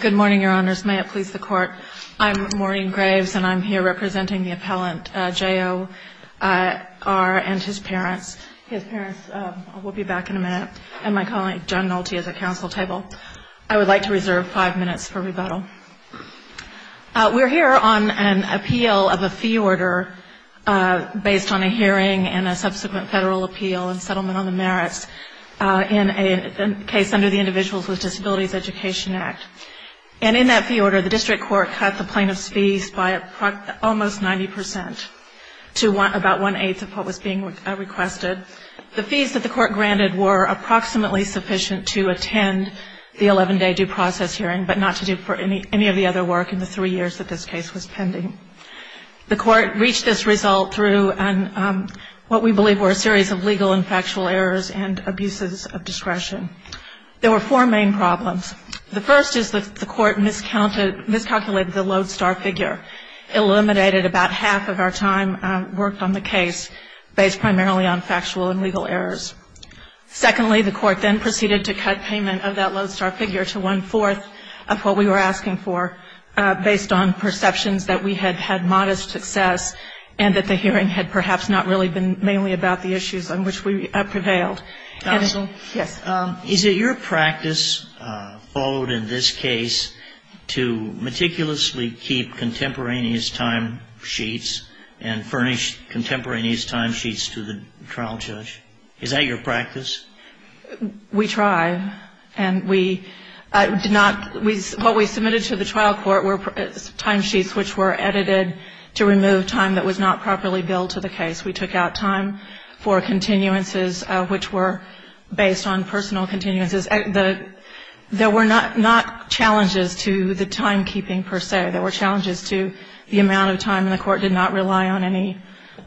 Good morning, Your Honors. May it please the Court. I'm Maureen Graves and I'm here representing the appellant J.O.R. and his parents. His parents will be back in a minute. And my colleague John Nolte is at council table. I would like to reserve five minutes for rebuttal. We're here on an appeal of a fee order based on a hearing and a subsequent federal appeal and settlement on the merits in a case under the Individuals with Disabilities Education Act. And in that fee order, the district court cut the plaintiff's fees by almost 90 percent to about one-eighth of what was being requested. The fees that the court granted were approximately sufficient to attend the 11-day due process hearing, but not to do for any of the other work in the three years that this case was pending. The court reached this result through what we believe were a series of legal and factual errors and abuses of discretion. There were four main problems. The first is that the court miscalculated the lodestar figure, eliminated about half of our time worked on the case based primarily on factual and legal errors. Secondly, the court then proceeded to cut payment of that lodestar figure to one-fourth of what we were asking for based on perceptions that we had had modest success and that the hearing had perhaps not really been mainly about the issues on which we prevailed. And it's a yes. Is it your practice, followed in this case, to meticulously keep contemporaneous timesheets and furnish contemporaneous timesheets to the trial judge? Is that your practice? We try. And we did not – what we submitted to the trial court were timesheets which were edited to remove time that was not properly billed to the case. We took out time for continuances which were based on personal continuances. There were not challenges to the timekeeping per se. There were challenges to the amount of time, and the court did not rely on any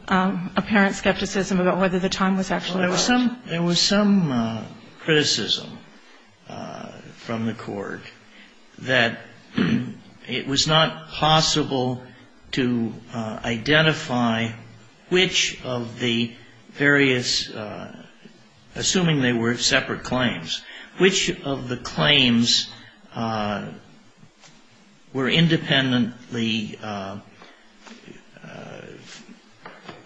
apparent skepticism about whether the time was actually right. But there was some criticism from the court that it was not possible to identify which of the various – assuming they were separate claims – which of the claims were independently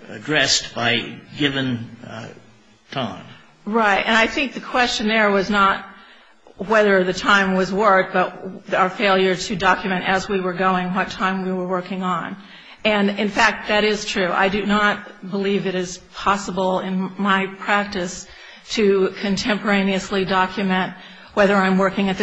addressed by given time. Right. And I think the question there was not whether the time was worked, but our failure to document as we were going what time we were working on. And, in fact, that is true. I do not believe it is possible in my practice to contemporaneously document whether I'm doing that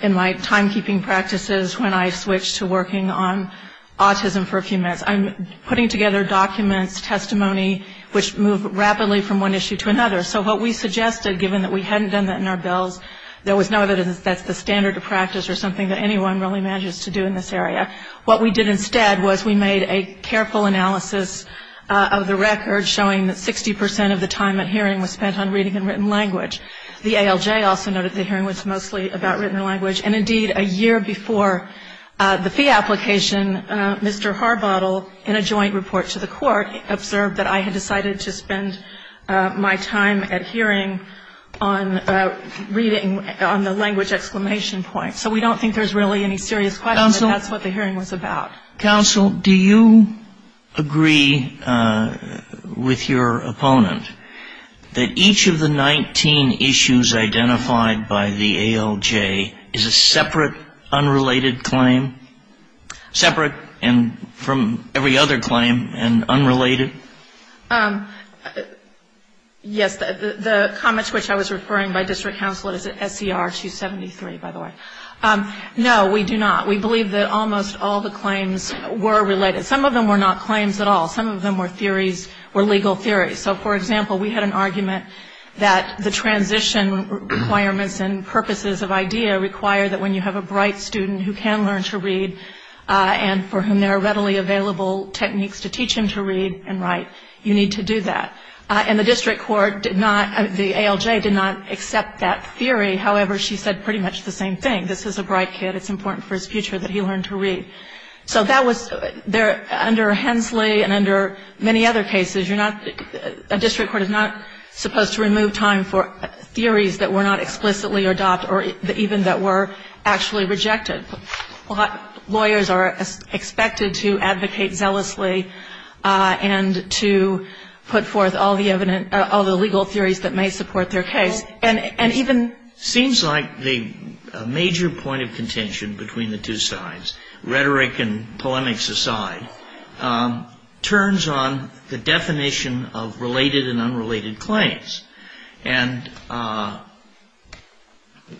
in my timekeeping practices when I switch to working on autism for a few minutes. I'm putting together documents, testimony, which move rapidly from one issue to another. So what we suggested, given that we hadn't done that in our bills, there was no evidence that's the standard of practice or something that anyone really manages to do in this area. What we did instead was we made a careful analysis of the record showing that 60 percent of the time at hearing was spent on reading and written language. The ALJ also noted the same thing, which is that it was mostly about written language. And, indeed, a year before the fee application, Mr. Harbottle, in a joint report to the court, observed that I had decided to spend my time at hearing on reading on the language exclamation point. So we don't think there's really any serious question that that's what the hearing was about. Counsel, do you agree with your opponent that each of the 19 issues identified by the ALJ is a separate, unrelated claim? Separate from every other claim and unrelated? Yes. The comment to which I was referring by district counsel is SCR 273, by the way. No, we do not. We believe that almost all the claims were related. Some of them were not claims at all. Some of them were theories, were legal theories. So, for example, we had an argument that the transition requirements and purposes of IDEA require that when you have a bright student who can learn to read and for whom there are readily available techniques to teach him to read and write, you need to do that. And the district court did not, the ALJ did not accept that theory. However, she said pretty much the same thing. This is a bright kid. It's important for his future that he learn to read. So that was, under Hensley and under many other cases, you're not, a district court is not supposed to remove time for theories that were not explicitly adopted or even that were actually rejected. Lawyers are expected to advocate zealously and to put forth all the evidence, all the legal theories that may support their case. And even It seems like the major point of contention between the two sides, rather than the rhetoric and polemics aside, turns on the definition of related and unrelated claims. And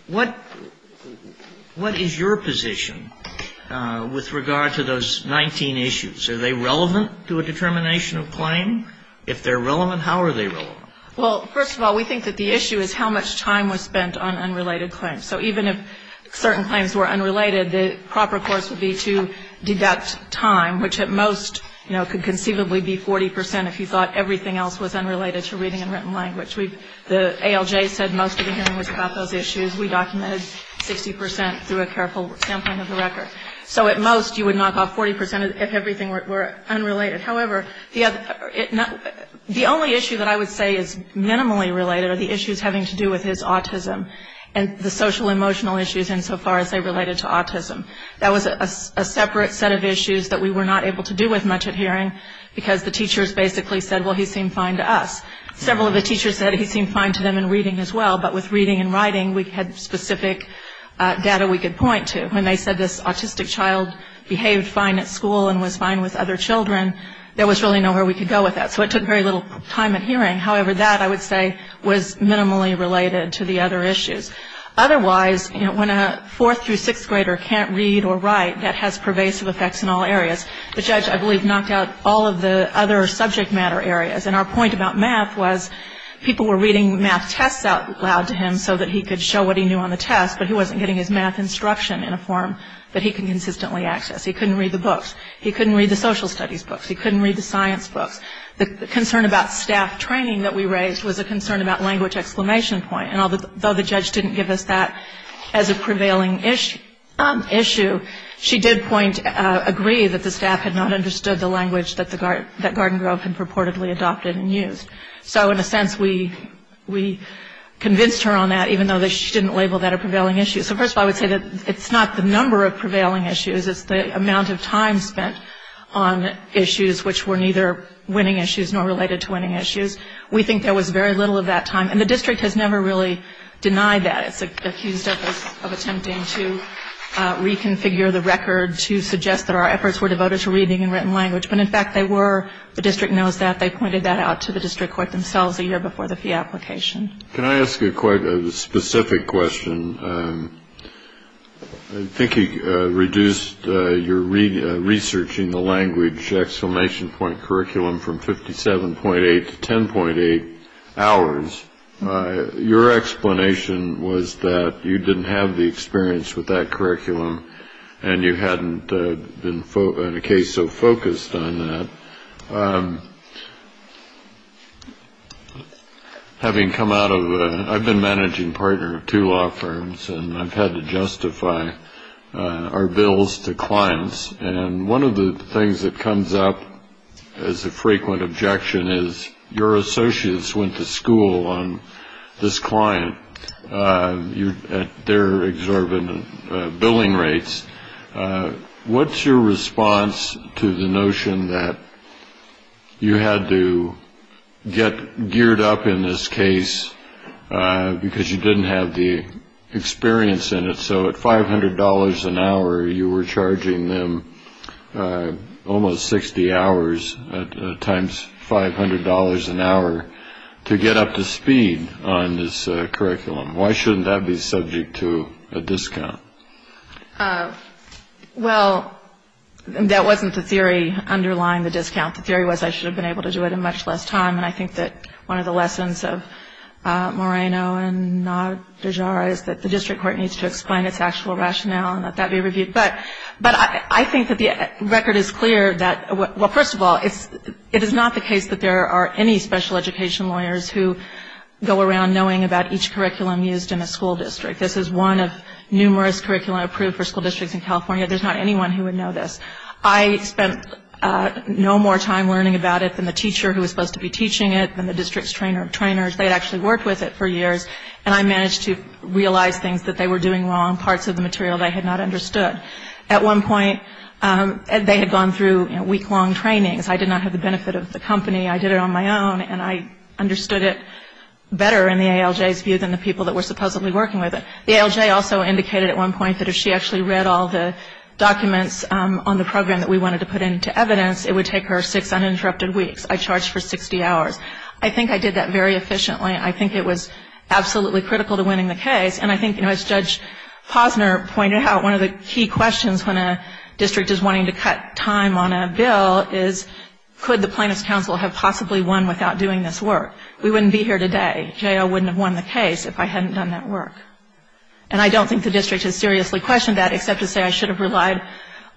what is your position with regard to those 19 issues? Are they relevant to a determination of claim? If they're relevant, how are they relevant? Well, first of all, we think that the issue is how much time was spent on unrelated claims. So even if certain claims were unrelated, the proper course would be to deduct time, which at most, you know, could conceivably be 40 percent if you thought everything else was unrelated to reading and written language. The ALJ said most of the hearing was about those issues. We documented 60 percent through a careful sampling of the record. So at most, you would knock off 40 percent if everything were unrelated. However, the only issue that I would say is minimally related are the issues having to do with his autism and the social-emotional issues insofar as they related to autism. That was a separate set of issues that we were not able to do with much at hearing, because the teachers basically said, well, he seemed fine to us. Several of the teachers said he seemed fine to them in reading as well, but with reading and writing, we had specific data we could point to. When they said this autistic child behaved fine at school and was fine with other children, there was really nowhere we could go with that. So it took very little time at hearing. However, that, I would say, was minimally related to the other issues. Otherwise, when a fourth through sixth grader can't read or write, that has pervasive effects in all areas. The judge, I believe, knocked out all of the other subject matter areas. And our point about math was people were reading math tests out loud to him so that he could show what he knew on the test, but he wasn't getting his answer. He couldn't read the books. He couldn't read the social studies books. He couldn't read the science books. The concern about staff training that we raised was a concern about language exclamation point. And although the judge didn't give us that as a prevailing issue, she did agree that the staff had not understood the language that Garden Grove had purportedly adopted and used. So in a sense, we convinced her on that, even though she didn't label that a prevailing issue. So first of all, I would say that it's not the number of prevailing issues. It's the amount of time spent on issues which were neither winning issues nor related to winning issues. We think there was very little of that time. And the district has never really denied that. It's accused of attempting to reconfigure the record to suggest that our efforts were devoted to reading in written language. But, in fact, they were. The district knows that. They pointed that out to the district court themselves a year before the fee application. I think you reduced your research in the language exclamation point curriculum from 57.8 to 10.8 hours. Your explanation was that you didn't have the experience with that curriculum and you hadn't been in a case so focused on that. Well, having come out of I've been managing partner of two law firms and I've had to justify our bills to clients. And one of the things that comes up as a frequent objection is your associates went to school on this client. They're exorbitant billing rates. What's your response to the notion that you had to get geared up in this case because you didn't have the experience in it? So at five hundred dollars an hour, you were charging them almost 60 hours times five hundred dollars an hour to get up to speed on this curriculum. Why shouldn't that be subject to a discount? Well, that wasn't the theory underlying the discount. The theory was I should have been able to do it in much less time. And I think that one of the lessons of Moreno and Najara is that the district court needs to explain its actual rationale and let that be reviewed. But I think that the record is clear that, well, first of all, it is not the case that there are any special education lawyers who go around knowing about each curriculum used in a school district. This is one of numerous curriculum approved for school districts in California. There's not anyone who would know this. I spent no more time learning about it than the teacher who was supposed to be teaching it, than the district's trainers. They had actually worked with it for years. And I managed to realize things that they were doing wrong, parts of the material they had not understood. At one point, they had gone through week-long trainings. I did not have the benefit of the company. I did it on my own, and I understood it better in the ALJ's view than the people that were supposedly working with it. The ALJ also indicated at one point that if she actually read all the documents on the program that we wanted to put into evidence, it would take her six uninterrupted weeks. I charged for 60 hours. I think I did that very efficiently. I think it was absolutely critical to winning the case. And I think, you know, as Judge Posner pointed out, one of the key questions when a district is wanting to cut time on a bill is could the plaintiff's counsel have possibly won without doing this work. We wouldn't be here today. J.O. wouldn't have won the case if I hadn't done that work. And I don't think the district has seriously questioned that, except to say I should have relied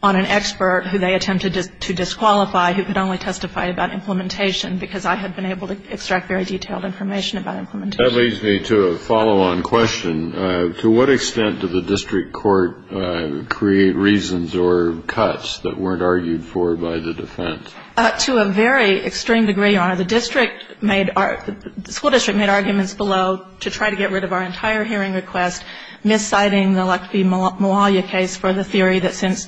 on an expert who they attempted to disqualify who could only testify about implementation, because I had been able to extract very detailed information about implementation. That leads me to a follow-on question. To what extent did the district court create reasons or cuts that weren't argued for by the defense? To a very extreme degree, Your Honor. The school district made arguments below to try to get rid of our entire hearing request, mis-citing the Latke-Mawalia case for the theory that since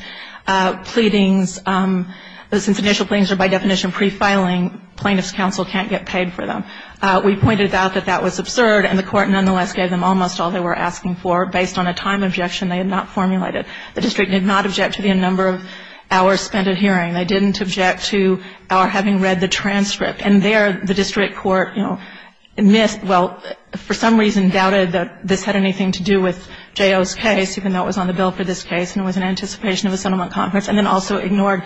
initial pleadings are by definition pre-filing, plaintiff's counsel can't get paid for them. We pointed out that that was absurd, and the court nonetheless gave them almost all they were asking for based on a time objection they had not formulated. The district did not object to the number of hours spent at hearing. They didn't object to our having read the transcript. And there, the district court, you know, missed, well, for some reason doubted that this had anything to do with J.O.'s case, even though it was on the bill for this case, and it was in anticipation of a settlement conference, and then also ignored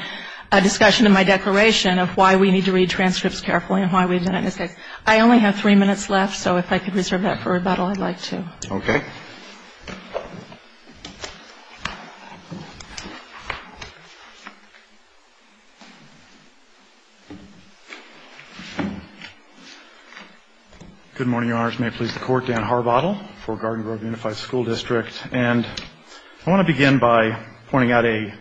a discussion in my declaration of why we need to read transcripts carefully and why we did it in this case. I only have three minutes left, so if I could reserve that for rebuttal, I'd like to. Okay. Good morning, Your Honors. May it please the Court. Dan Harbottle for Garden Grove Unified School District. And I want to begin by pointing out a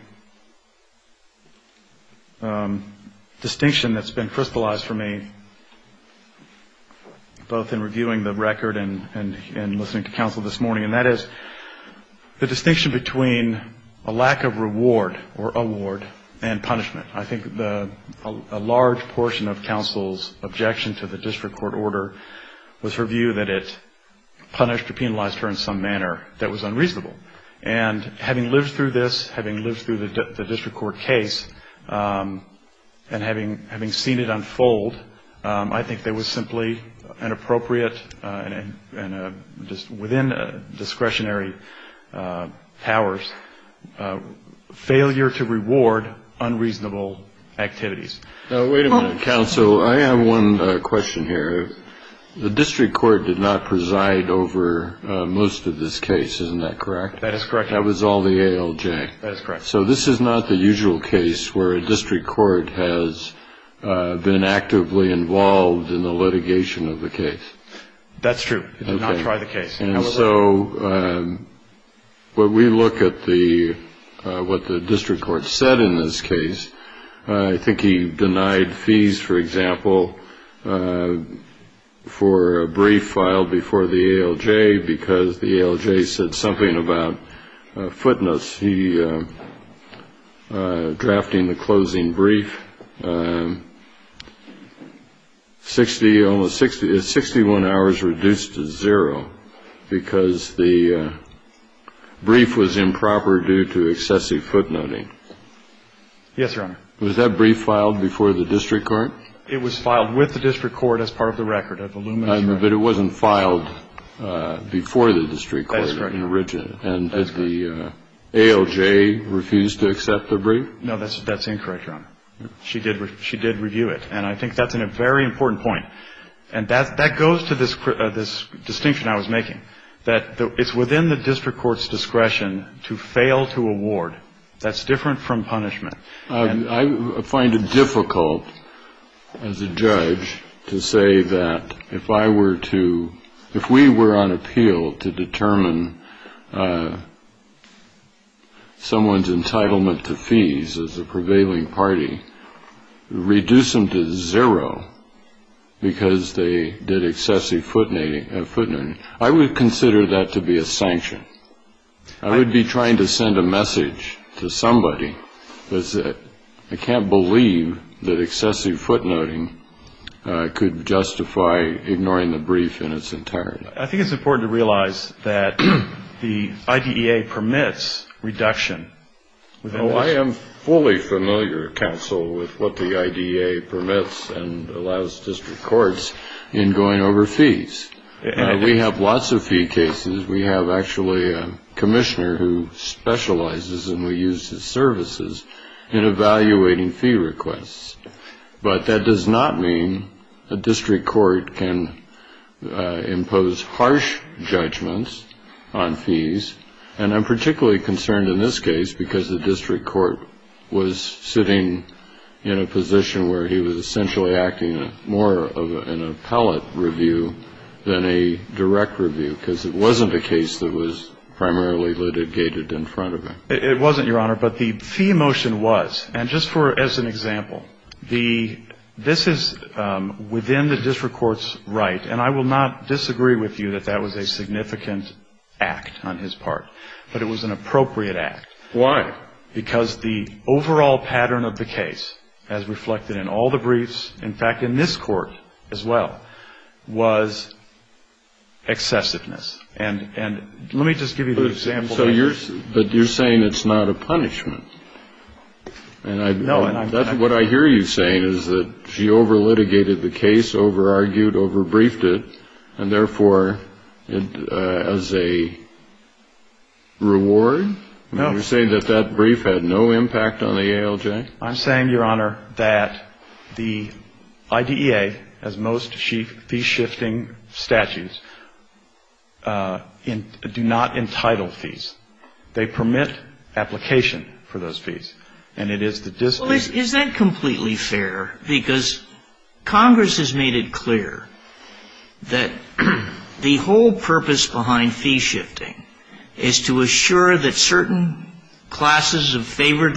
distinction that's been crystallized for me, both in reviewing the record and listening to counsel this morning, and that is the distinction between a lack of reward or award and punishment. I think a large portion of counsel's objection to the district court order was her view that it punished or penalized her in some manner that was unreasonable. And having lived through this, having lived through the district court case, and having seen it unfold, I think there was simply an appropriate, and just within discretionary powers, failure to reward unreasonable activities. Now, wait a minute, counsel. I have one question here. The district court did not preside over most of this case, isn't that correct? That is correct. That was all the ALJ. That is correct. So this is not the usual case where a district court has been actively involved in the litigation of the case. That's true. It did not try the case. And so when we look at what the district court said in this case, I think he denied fees, for example, for a brief filed before the ALJ because the ALJ said something about footnotes. It was he drafting the closing brief. Sixty almost sixty one hours reduced to zero because the brief was improper due to excessive footnoting. Yes, Your Honor. Was that brief filed before the district court? It was filed with the district court as part of the record of the Lumina Tri- But it wasn't filed before the district court. That's correct. And as the ALJ refused to accept the brief? No, that's incorrect, Your Honor. She did review it. And I think that's a very important point. And that goes to this distinction I was making, that it's within the district court's discretion to fail to award. That's different from punishment. I find it difficult as a judge to say that if I were to if we were on appeal to determine someone's entitlement to fees as a prevailing party, reduce them to zero because they did excessive footnoting. I would consider that to be a sanction. I would be trying to send a message to somebody that I can't believe that excessive footnoting could justify ignoring the brief in its entirety. I think it's important to realize that the IDEA permits reduction. I am fully familiar, counsel, with what the IDEA permits and allows district courts in going over fees. We have lots of fee cases. We have actually a commissioner who specializes, and we use his services, in evaluating fee requests. But that does not mean a district court can impose harsh judgments on fees. And I'm particularly concerned in this case because the district court was sitting in a position where he was essentially acting more of an appellate review than a direct review because it wasn't a case that was primarily litigated in front of him. It wasn't, Your Honor, but the fee motion was. And just for as an example, the this is within the district court's right, and I will not disagree with you that that was a significant act on his part, but it was an appropriate act. Why? Because the overall pattern of the case, as reflected in all the briefs, in fact, in this court as well, was excessiveness. And let me just give you an example. But you're saying it's not a punishment. No. What I hear you saying is that she over-litigated the case, over-argued, over-briefed it, and therefore, as a reward? No. You're saying that that brief had no impact on the ALJ? I'm saying, Your Honor, that the IDEA, as most fee-shifting statutes, do not entitle fees. They permit application for those fees. And it is the district's. Isn't that completely fair? Because Congress has made it clear that the whole purpose behind fee-shifting is to assure that certain classes of favored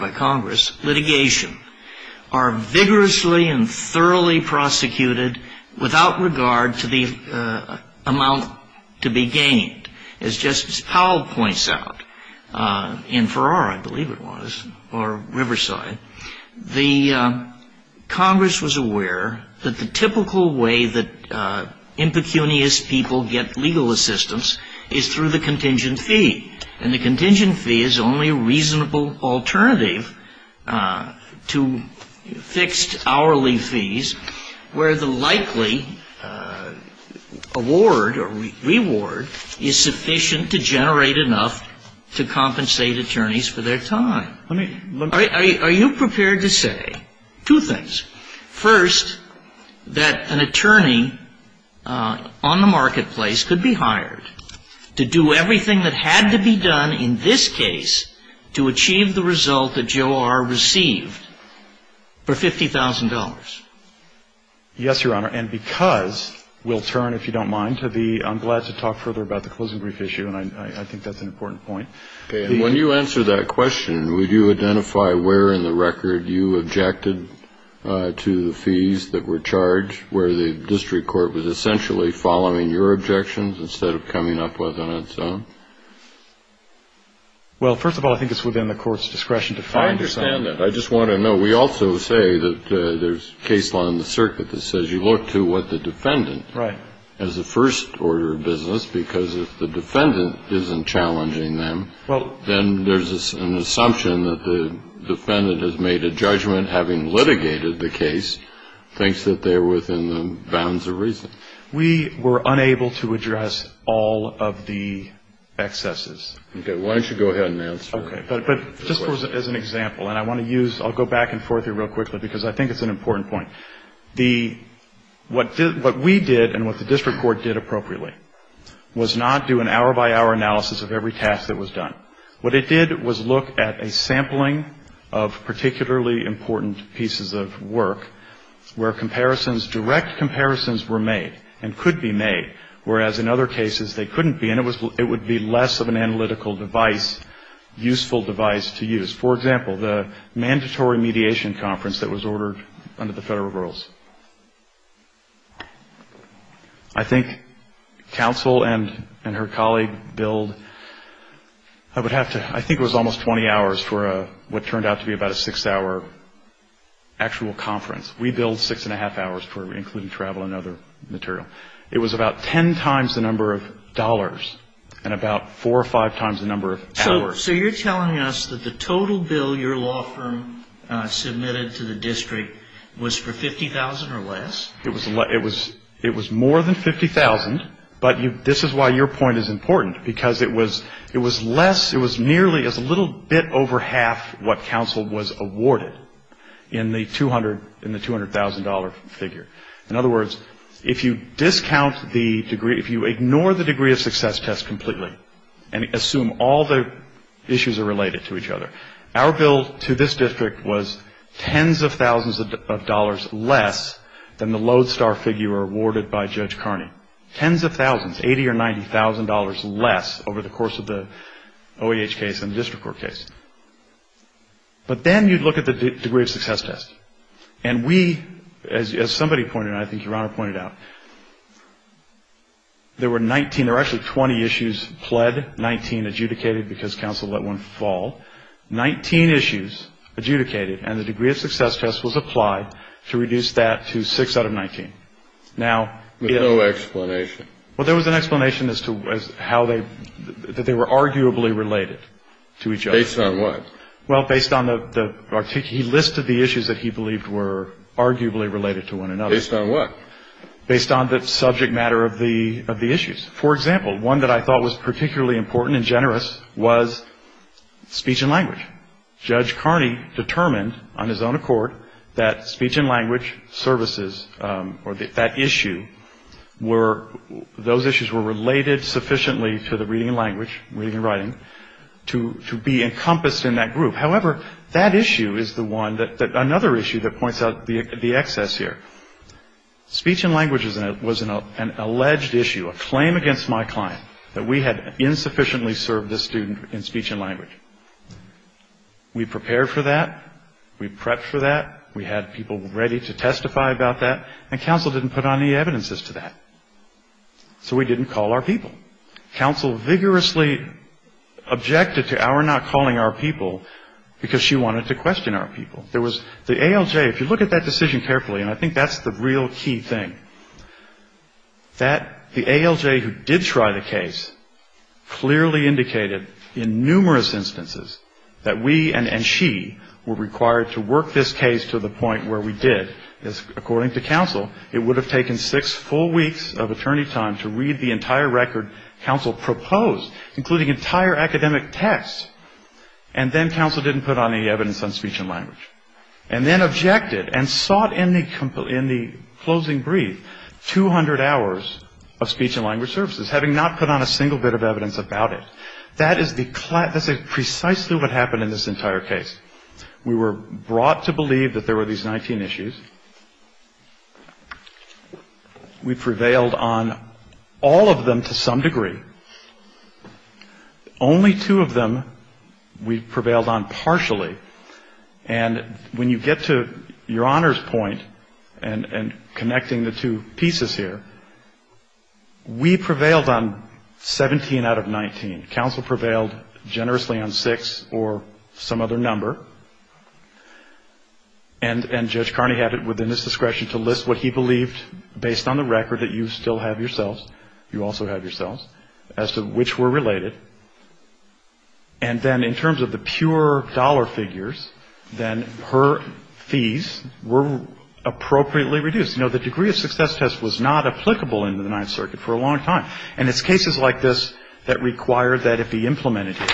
by Congress litigation are vigorously and thoroughly prosecuted without regard to the amount to be gained. As Justice Powell points out, in Farrar, I believe it was, or Riverside, the Congress was aware that the typical way that impecunious people get legal assistance is through the contingent fee. And the contingent fee is only a reasonable alternative to fixed hourly fees where the likely award or reward is sufficient to generate enough to compensate attorneys for their time. Are you prepared to say two things? First, that an attorney on the marketplace could be hired to do everything that had to be done in this case to achieve the result that Joe R. received for $50,000? Yes, Your Honor. And because we'll turn, if you don't mind, to the ‑‑ I'm glad to talk further about the closing brief issue, and I think that's an important point. Okay. And when you answer that question, would you identify where in the record you objected to the fees that were charged, where the district court was essentially following your objections instead of coming up with on its own? Well, first of all, I think it's within the court's discretion to find that. I understand that. I just want to know. We also say that there's case law in the circuit that says you look to what the defendant has the first order of business, because if the defendant isn't challenging them, then there's an assumption that the defendant has made a judgment, having litigated the case, thinks that they're within the bounds of reason. We were unable to address all of the excesses. Okay. Why don't you go ahead and answer? Okay. But just as an example, and I want to use ‑‑ I'll go back and forth here real quickly, because I think it's an important point. What we did and what the district court did appropriately was not do an hour‑by‑hour analysis of every task that was done. What it did was look at a sampling of particularly important pieces of work where direct comparisons were made and could be made, whereas in other cases they couldn't be, and it would be less of an analytical device, useful device to use. For example, the mandatory mediation conference that was ordered under the federal rules. I think counsel and her colleague billed, I would have to ‑‑ I think it was almost 20 hours for what turned out to be about a six‑hour actual conference. We billed six and a half hours for including travel and other material. It was about ten times the number of dollars and about four or five times the number of hours. So you're telling us that the total bill your law firm submitted to the district was for $50,000 or less? It was more than $50,000, but this is why your point is important, because it was less, it was nearly as little bit over half what counsel was awarded in the $200,000 figure. In other words, if you discount the degree, if you ignore the degree of success test completely and assume all the issues are related to each other, our bill to this district was tens of thousands of dollars less than the lodestar figure awarded by Judge Carney. Tens of thousands, $80,000 or $90,000 less over the course of the OEH case and the district court case. But then you look at the degree of success test. And we, as somebody pointed out, I think your Honor pointed out, there were 19, there were actually 20 issues pled, 19 adjudicated because counsel let one fall, 19 issues adjudicated and the degree of success test was applied to reduce that to six out of 19. Now ‑‑ With no explanation. Well, there was an explanation as to how they ‑‑ that they were arguably related to each other. Based on what? Well, based on the ‑‑ he listed the issues that he believed were arguably related to one another. Based on what? Based on the subject matter of the issues. For example, one that I thought was particularly important and generous was speech and language. Judge Carney determined on his own accord that speech and language services or that issue were, those issues were related sufficiently to the reading and language, reading and writing, to be encompassed in that group. However, that issue is the one that, another issue that points out the excess here. Speech and language was an alleged issue, a claim against my client that we had insufficiently served this student in speech and language. We prepared for that. We prepped for that. We had people ready to testify about that. And counsel didn't put on any evidences to that. So we didn't call our people. Counsel vigorously objected to our not calling our people because she wanted to question our people. There was ‑‑ the ALJ, if you look at that decision carefully, and I think that's the real key thing, that the ALJ who did try the case clearly indicated in numerous instances that we and she were required to work this case to the point where we did. According to counsel, it would have taken six full weeks of attorney time to read the entire record counsel proposed, including entire academic texts. And then counsel didn't put on any evidence on speech and language. And then objected and sought in the closing brief 200 hours of speech and language services, having not put on a single bit of evidence about it. That is precisely what happened in this entire case. We were brought to believe that there were these 19 issues. We prevailed on all of them to some degree. Only two of them we prevailed on partially. And when you get to your Honor's point and connecting the two pieces here, we prevailed on 17 out of 19. Counsel prevailed generously on six or some other number. And Judge Carney had it within his discretion to list what he believed based on the record that you still have yourselves, you also have yourselves, as to which were related. And then in terms of the pure dollar figures, then her fees were appropriately reduced. You know, the degree of success test was not applicable in the Ninth Circuit for a long time. And it's cases like this that require that it be implemented here.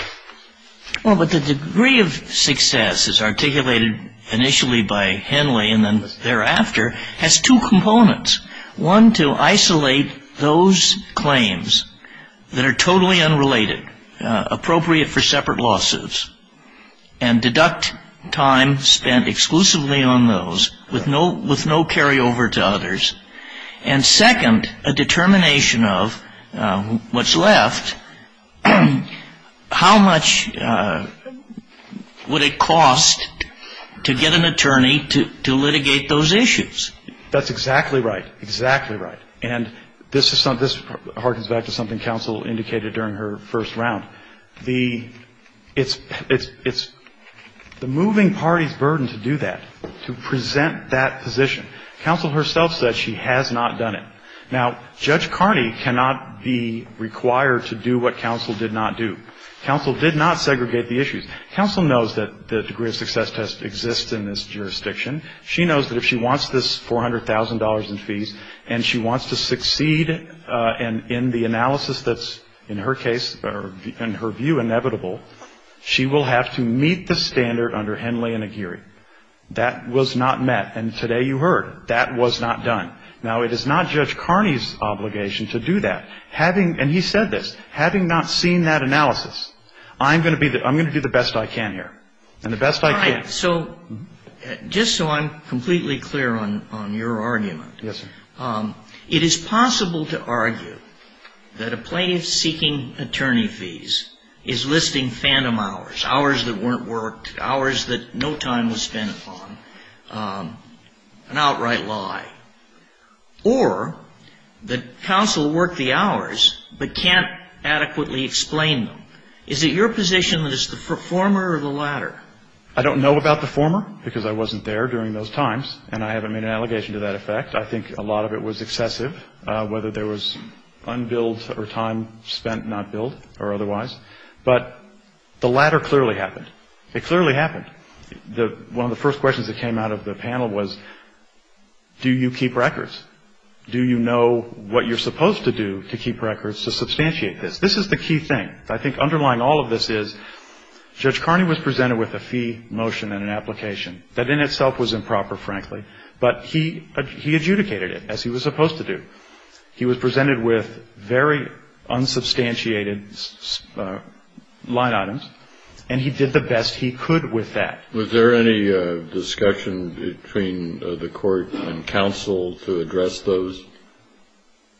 Well, but the degree of success as articulated initially by Henley and then thereafter has two components. One, to isolate those claims that are totally unrelated, appropriate for separate lawsuits, and deduct time spent exclusively on those with no carryover to others. And second, a determination of what's left, how much would it cost to get an attorney to litigate those issues? That's exactly right. Exactly right. And this harkens back to something counsel indicated during her first round. It's the moving party's burden to do that, to present that position. Counsel herself said she has not done it. Now, Judge Carney cannot be required to do what counsel did not do. Counsel did not segregate the issues. Counsel knows that the degree of success test exists in this jurisdiction. She knows that if she wants this $400,000 in fees and she wants to succeed in the analysis that's, in her case, in her view, inevitable, she will have to meet the standard under Henley and Aguirre. That was not met. And today you heard, that was not done. Now, it is not Judge Carney's obligation to do that. And he said this. Having not seen that analysis, I'm going to do the best I can here, and the best I can. All right. So just so I'm completely clear on your argument. Yes, sir. It is possible to argue that a plaintiff seeking attorney fees is listing fandom hours, hours that weren't worked, hours that no time was spent on, an outright lie. Or that counsel worked the hours but can't adequately explain them. I don't know about the former, because I wasn't there during those times. And I haven't made an allegation to that effect. I think a lot of it was excessive, whether there was unbilled or time spent not billed or otherwise. But the latter clearly happened. It clearly happened. One of the first questions that came out of the panel was, do you keep records? Do you know what you're supposed to do to keep records to substantiate this? This is the key thing. I think underlying all of this is Judge Carney was presented with a fee motion and an application. That in itself was improper, frankly. But he adjudicated it, as he was supposed to do. He was presented with very unsubstantiated line items, and he did the best he could with that. Was there any discussion between the court and counsel to address those?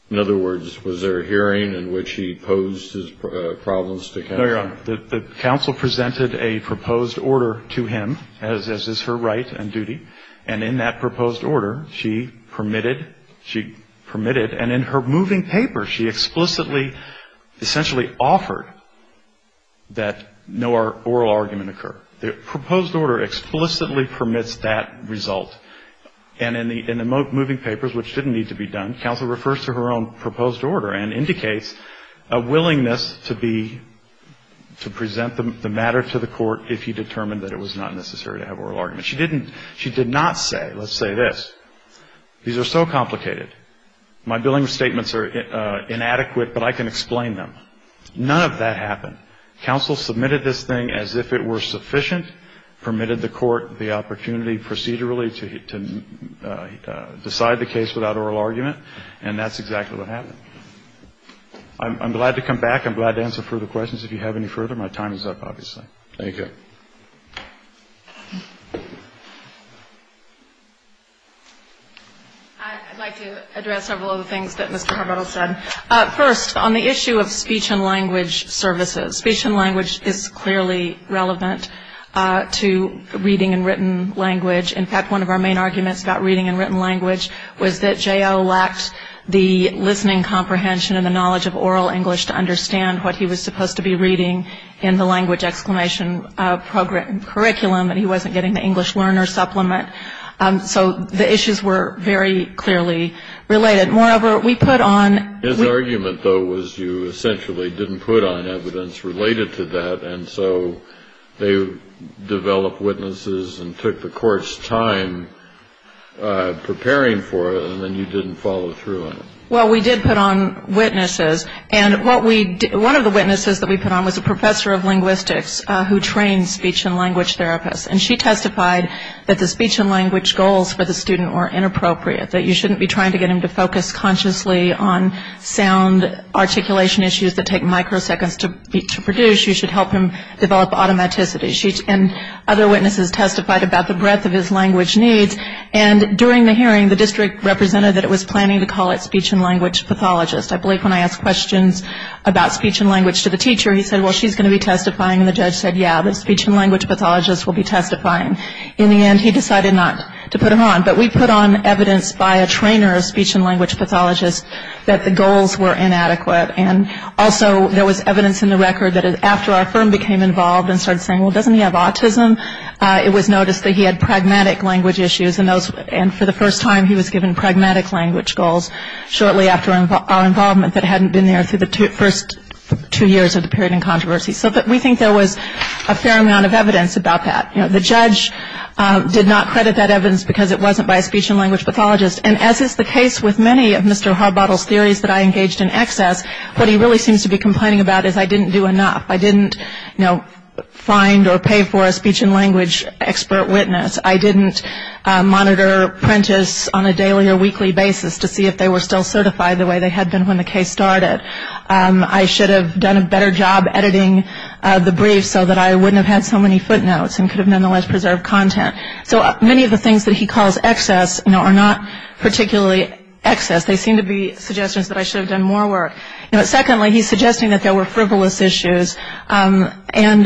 In other words, was there a hearing in which he posed his problems to counsel? No, Your Honor. The counsel presented a proposed order to him, as is her right and duty. And in that proposed order, she permitted, she permitted, and in her moving paper, she explicitly essentially offered that no oral argument occur. The proposed order explicitly permits that result. And in the moving papers, which didn't need to be done, counsel refers to her own proposed order and indicates a willingness to be, to present the matter to the court if he determined that it was not necessary to have oral argument. She didn't, she did not say, let's say this, these are so complicated. My billing statements are inadequate, but I can explain them. None of that happened. Counsel submitted this thing as if it were sufficient, permitted the court the opportunity procedurally to decide the case without oral argument, and that's exactly what happened. I'm glad to come back. I'm glad to answer further questions if you have any further. My time is up, obviously. Thank you. I'd like to address several of the things that Mr. Harbuttel said. First, on the issue of speech and language services. Speech and language is clearly relevant to reading and written language. In fact, one of our main arguments about reading and written language was that J.L. lacked the listening comprehension and the knowledge of oral English to understand what he was supposed to be reading in the language exclamation curriculum, and he wasn't getting the English learner supplement. So the issues were very clearly related. Moreover, we put on. His argument, though, was you essentially didn't put on evidence related to that, and so they developed witnesses and took the court's time preparing for it, and then you didn't follow through on it. Well, we did put on witnesses, and one of the witnesses that we put on was a professor of linguistics who trained speech and language therapists, and she testified that the speech and language goals for the student were inappropriate, that you shouldn't be trying to get him to focus consciously on sound articulation issues that take microseconds to produce. You should help him develop automaticity. And other witnesses testified about the breadth of his language needs, and during the hearing, the district represented that it was planning to call it speech and language pathologist. I believe when I asked questions about speech and language to the teacher, he said, well, she's going to be testifying, and the judge said, yeah, the speech and language pathologist will be testifying. In the end, he decided not to put him on. But we put on evidence by a trainer of speech and language pathologists that the goals were inadequate, and also there was evidence in the record that after our firm became involved and started saying, well, doesn't he have autism, it was noticed that he had pragmatic language issues, and for the first time he was given pragmatic language goals shortly after our involvement that hadn't been there through the first two years of the period in controversy. So we think there was a fair amount of evidence about that. The judge did not credit that evidence because it wasn't by a speech and language pathologist, and as is the case with many of Mr. Harbottle's theories that I engaged in excess, what he really seems to be complaining about is I didn't do enough. I didn't find or pay for a speech and language expert witness. I didn't monitor Prentiss on a daily or weekly basis to see if they were still certified the way they had been when the case started. I should have done a better job editing the brief so that I wouldn't have had so many footnotes and could have nonetheless preserved content. So many of the things that he calls excess are not particularly excess. They seem to be suggestions that I should have done more work. Secondly, he's suggesting that there were frivolous issues, and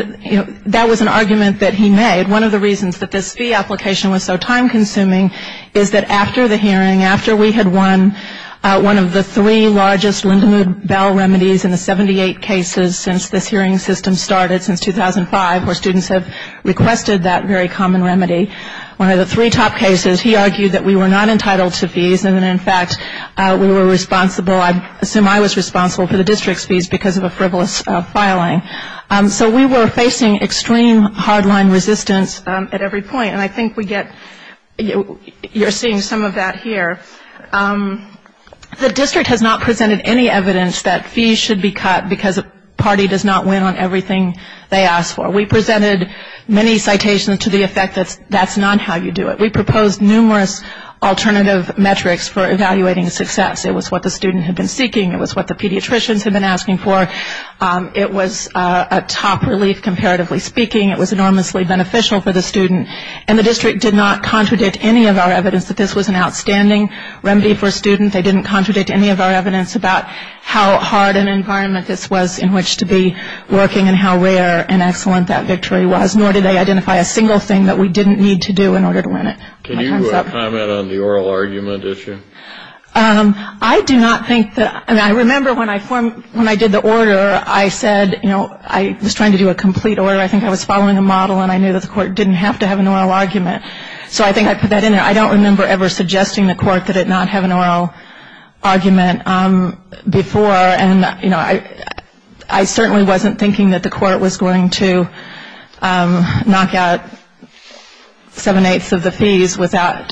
that was an argument that he made. One of the reasons that this fee application was so time-consuming is that after the hearing, after we had won one of the three largest Lindemood-Bell remedies in the 78 cases since this hearing system started since 2005, where students have requested that very common remedy, one of the three top cases he argued that we were not entitled to fees and that, in fact, we were responsible. I assume I was responsible for the district's fees because of a frivolous filing. So we were facing extreme hard-line resistance at every point, and I think we get you're seeing some of that here. The district has not presented any evidence that fees should be cut because a party does not win on everything they ask for. We presented many citations to the effect that that's not how you do it. We proposed numerous alternative metrics for evaluating success. It was what the student had been seeking. It was what the pediatricians had been asking for. It was a top relief, comparatively speaking. It was enormously beneficial for the student, and the district did not contradict any of our evidence that this was an outstanding remedy for a student. They didn't contradict any of our evidence about how hard an environment this was in which to be working and how rare and excellent that victory was, nor did they identify a single thing that we didn't need to do in order to win it. Can you comment on the oral argument issue? I do not think that ñ I mean, I remember when I did the order, I said, you know, I was trying to do a complete order. I think I was following a model, and I knew that the court didn't have to have an oral argument. So I think I put that in there. I don't remember ever suggesting the court that it not have an oral argument before, and, you know, I certainly wasn't thinking that the court was going to knock out seven-eighths of the fees without,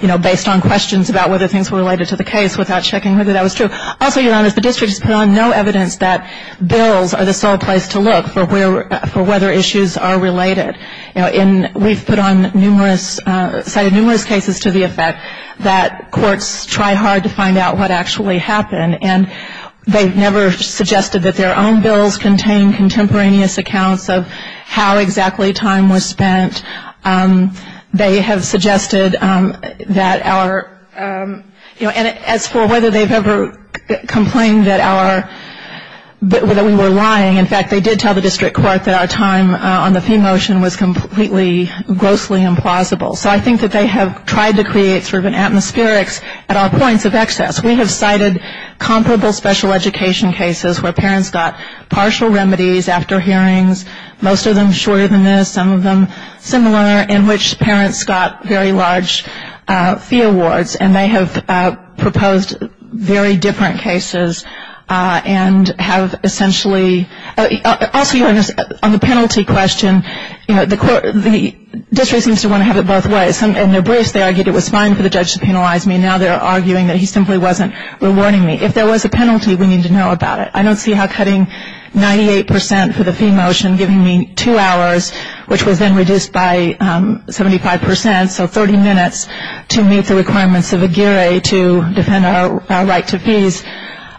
you know, based on questions about whether things were related to the case without checking whether that was true. Also, Your Honor, the district has put on no evidence that bills are the sole place to look for whether issues are related. And we've put on numerous ñ cited numerous cases to the effect that courts try hard to find out what actually happened, and they've never suggested that their own bills contain contemporaneous accounts of how exactly time was spent. They have suggested that our ñ you know, and as for whether they've ever complained that our ñ that we were lying, in fact, they did tell the district court that our time on the fee motion was completely, grossly implausible. So I think that they have tried to create sort of an atmospherics at all points of excess. We have cited comparable special education cases where parents got partial remedies after hearings, most of them shorter than this, some of them similar, in which parents got very large fee awards, and they have proposed very different cases and have essentially ñ also, Your Honor, on the penalty question, you know, the district seems to want to have it both ways. In their briefs, they argued it was fine for the judge to penalize me. Now they're arguing that he simply wasn't rewarding me. If there was a penalty, we need to know about it. I don't see how cutting 98 percent for the fee motion, giving me two hours, which was then reduced by 75 percent, so 30 minutes, to meet the requirements of AGIRRA to defend our right to fees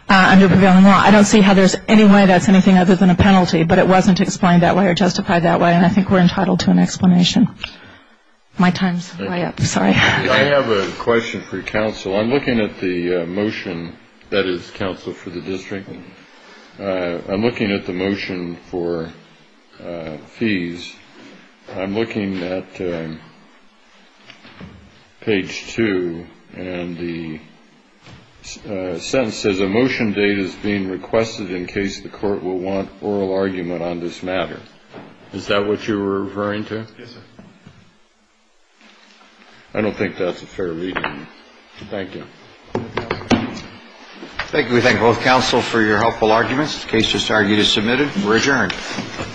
under prevailing law. I don't see how there's any way that's anything other than a penalty. But it wasn't explained that way or justified that way, and I think we're entitled to an explanation. My time's way up. Sorry. I have a question for counsel. I'm looking at the motion that is counsel for the district. I'm looking at the motion for fees. I'm looking at page 2, and the sentence says, a motion date is being requested in case the court will want oral argument on this matter. Is that what you were referring to? Yes, sir. I don't think that's a fair reading. Thank you. Thank you. We thank both counsel for your helpful arguments. The case just argued is submitted. We're adjourned.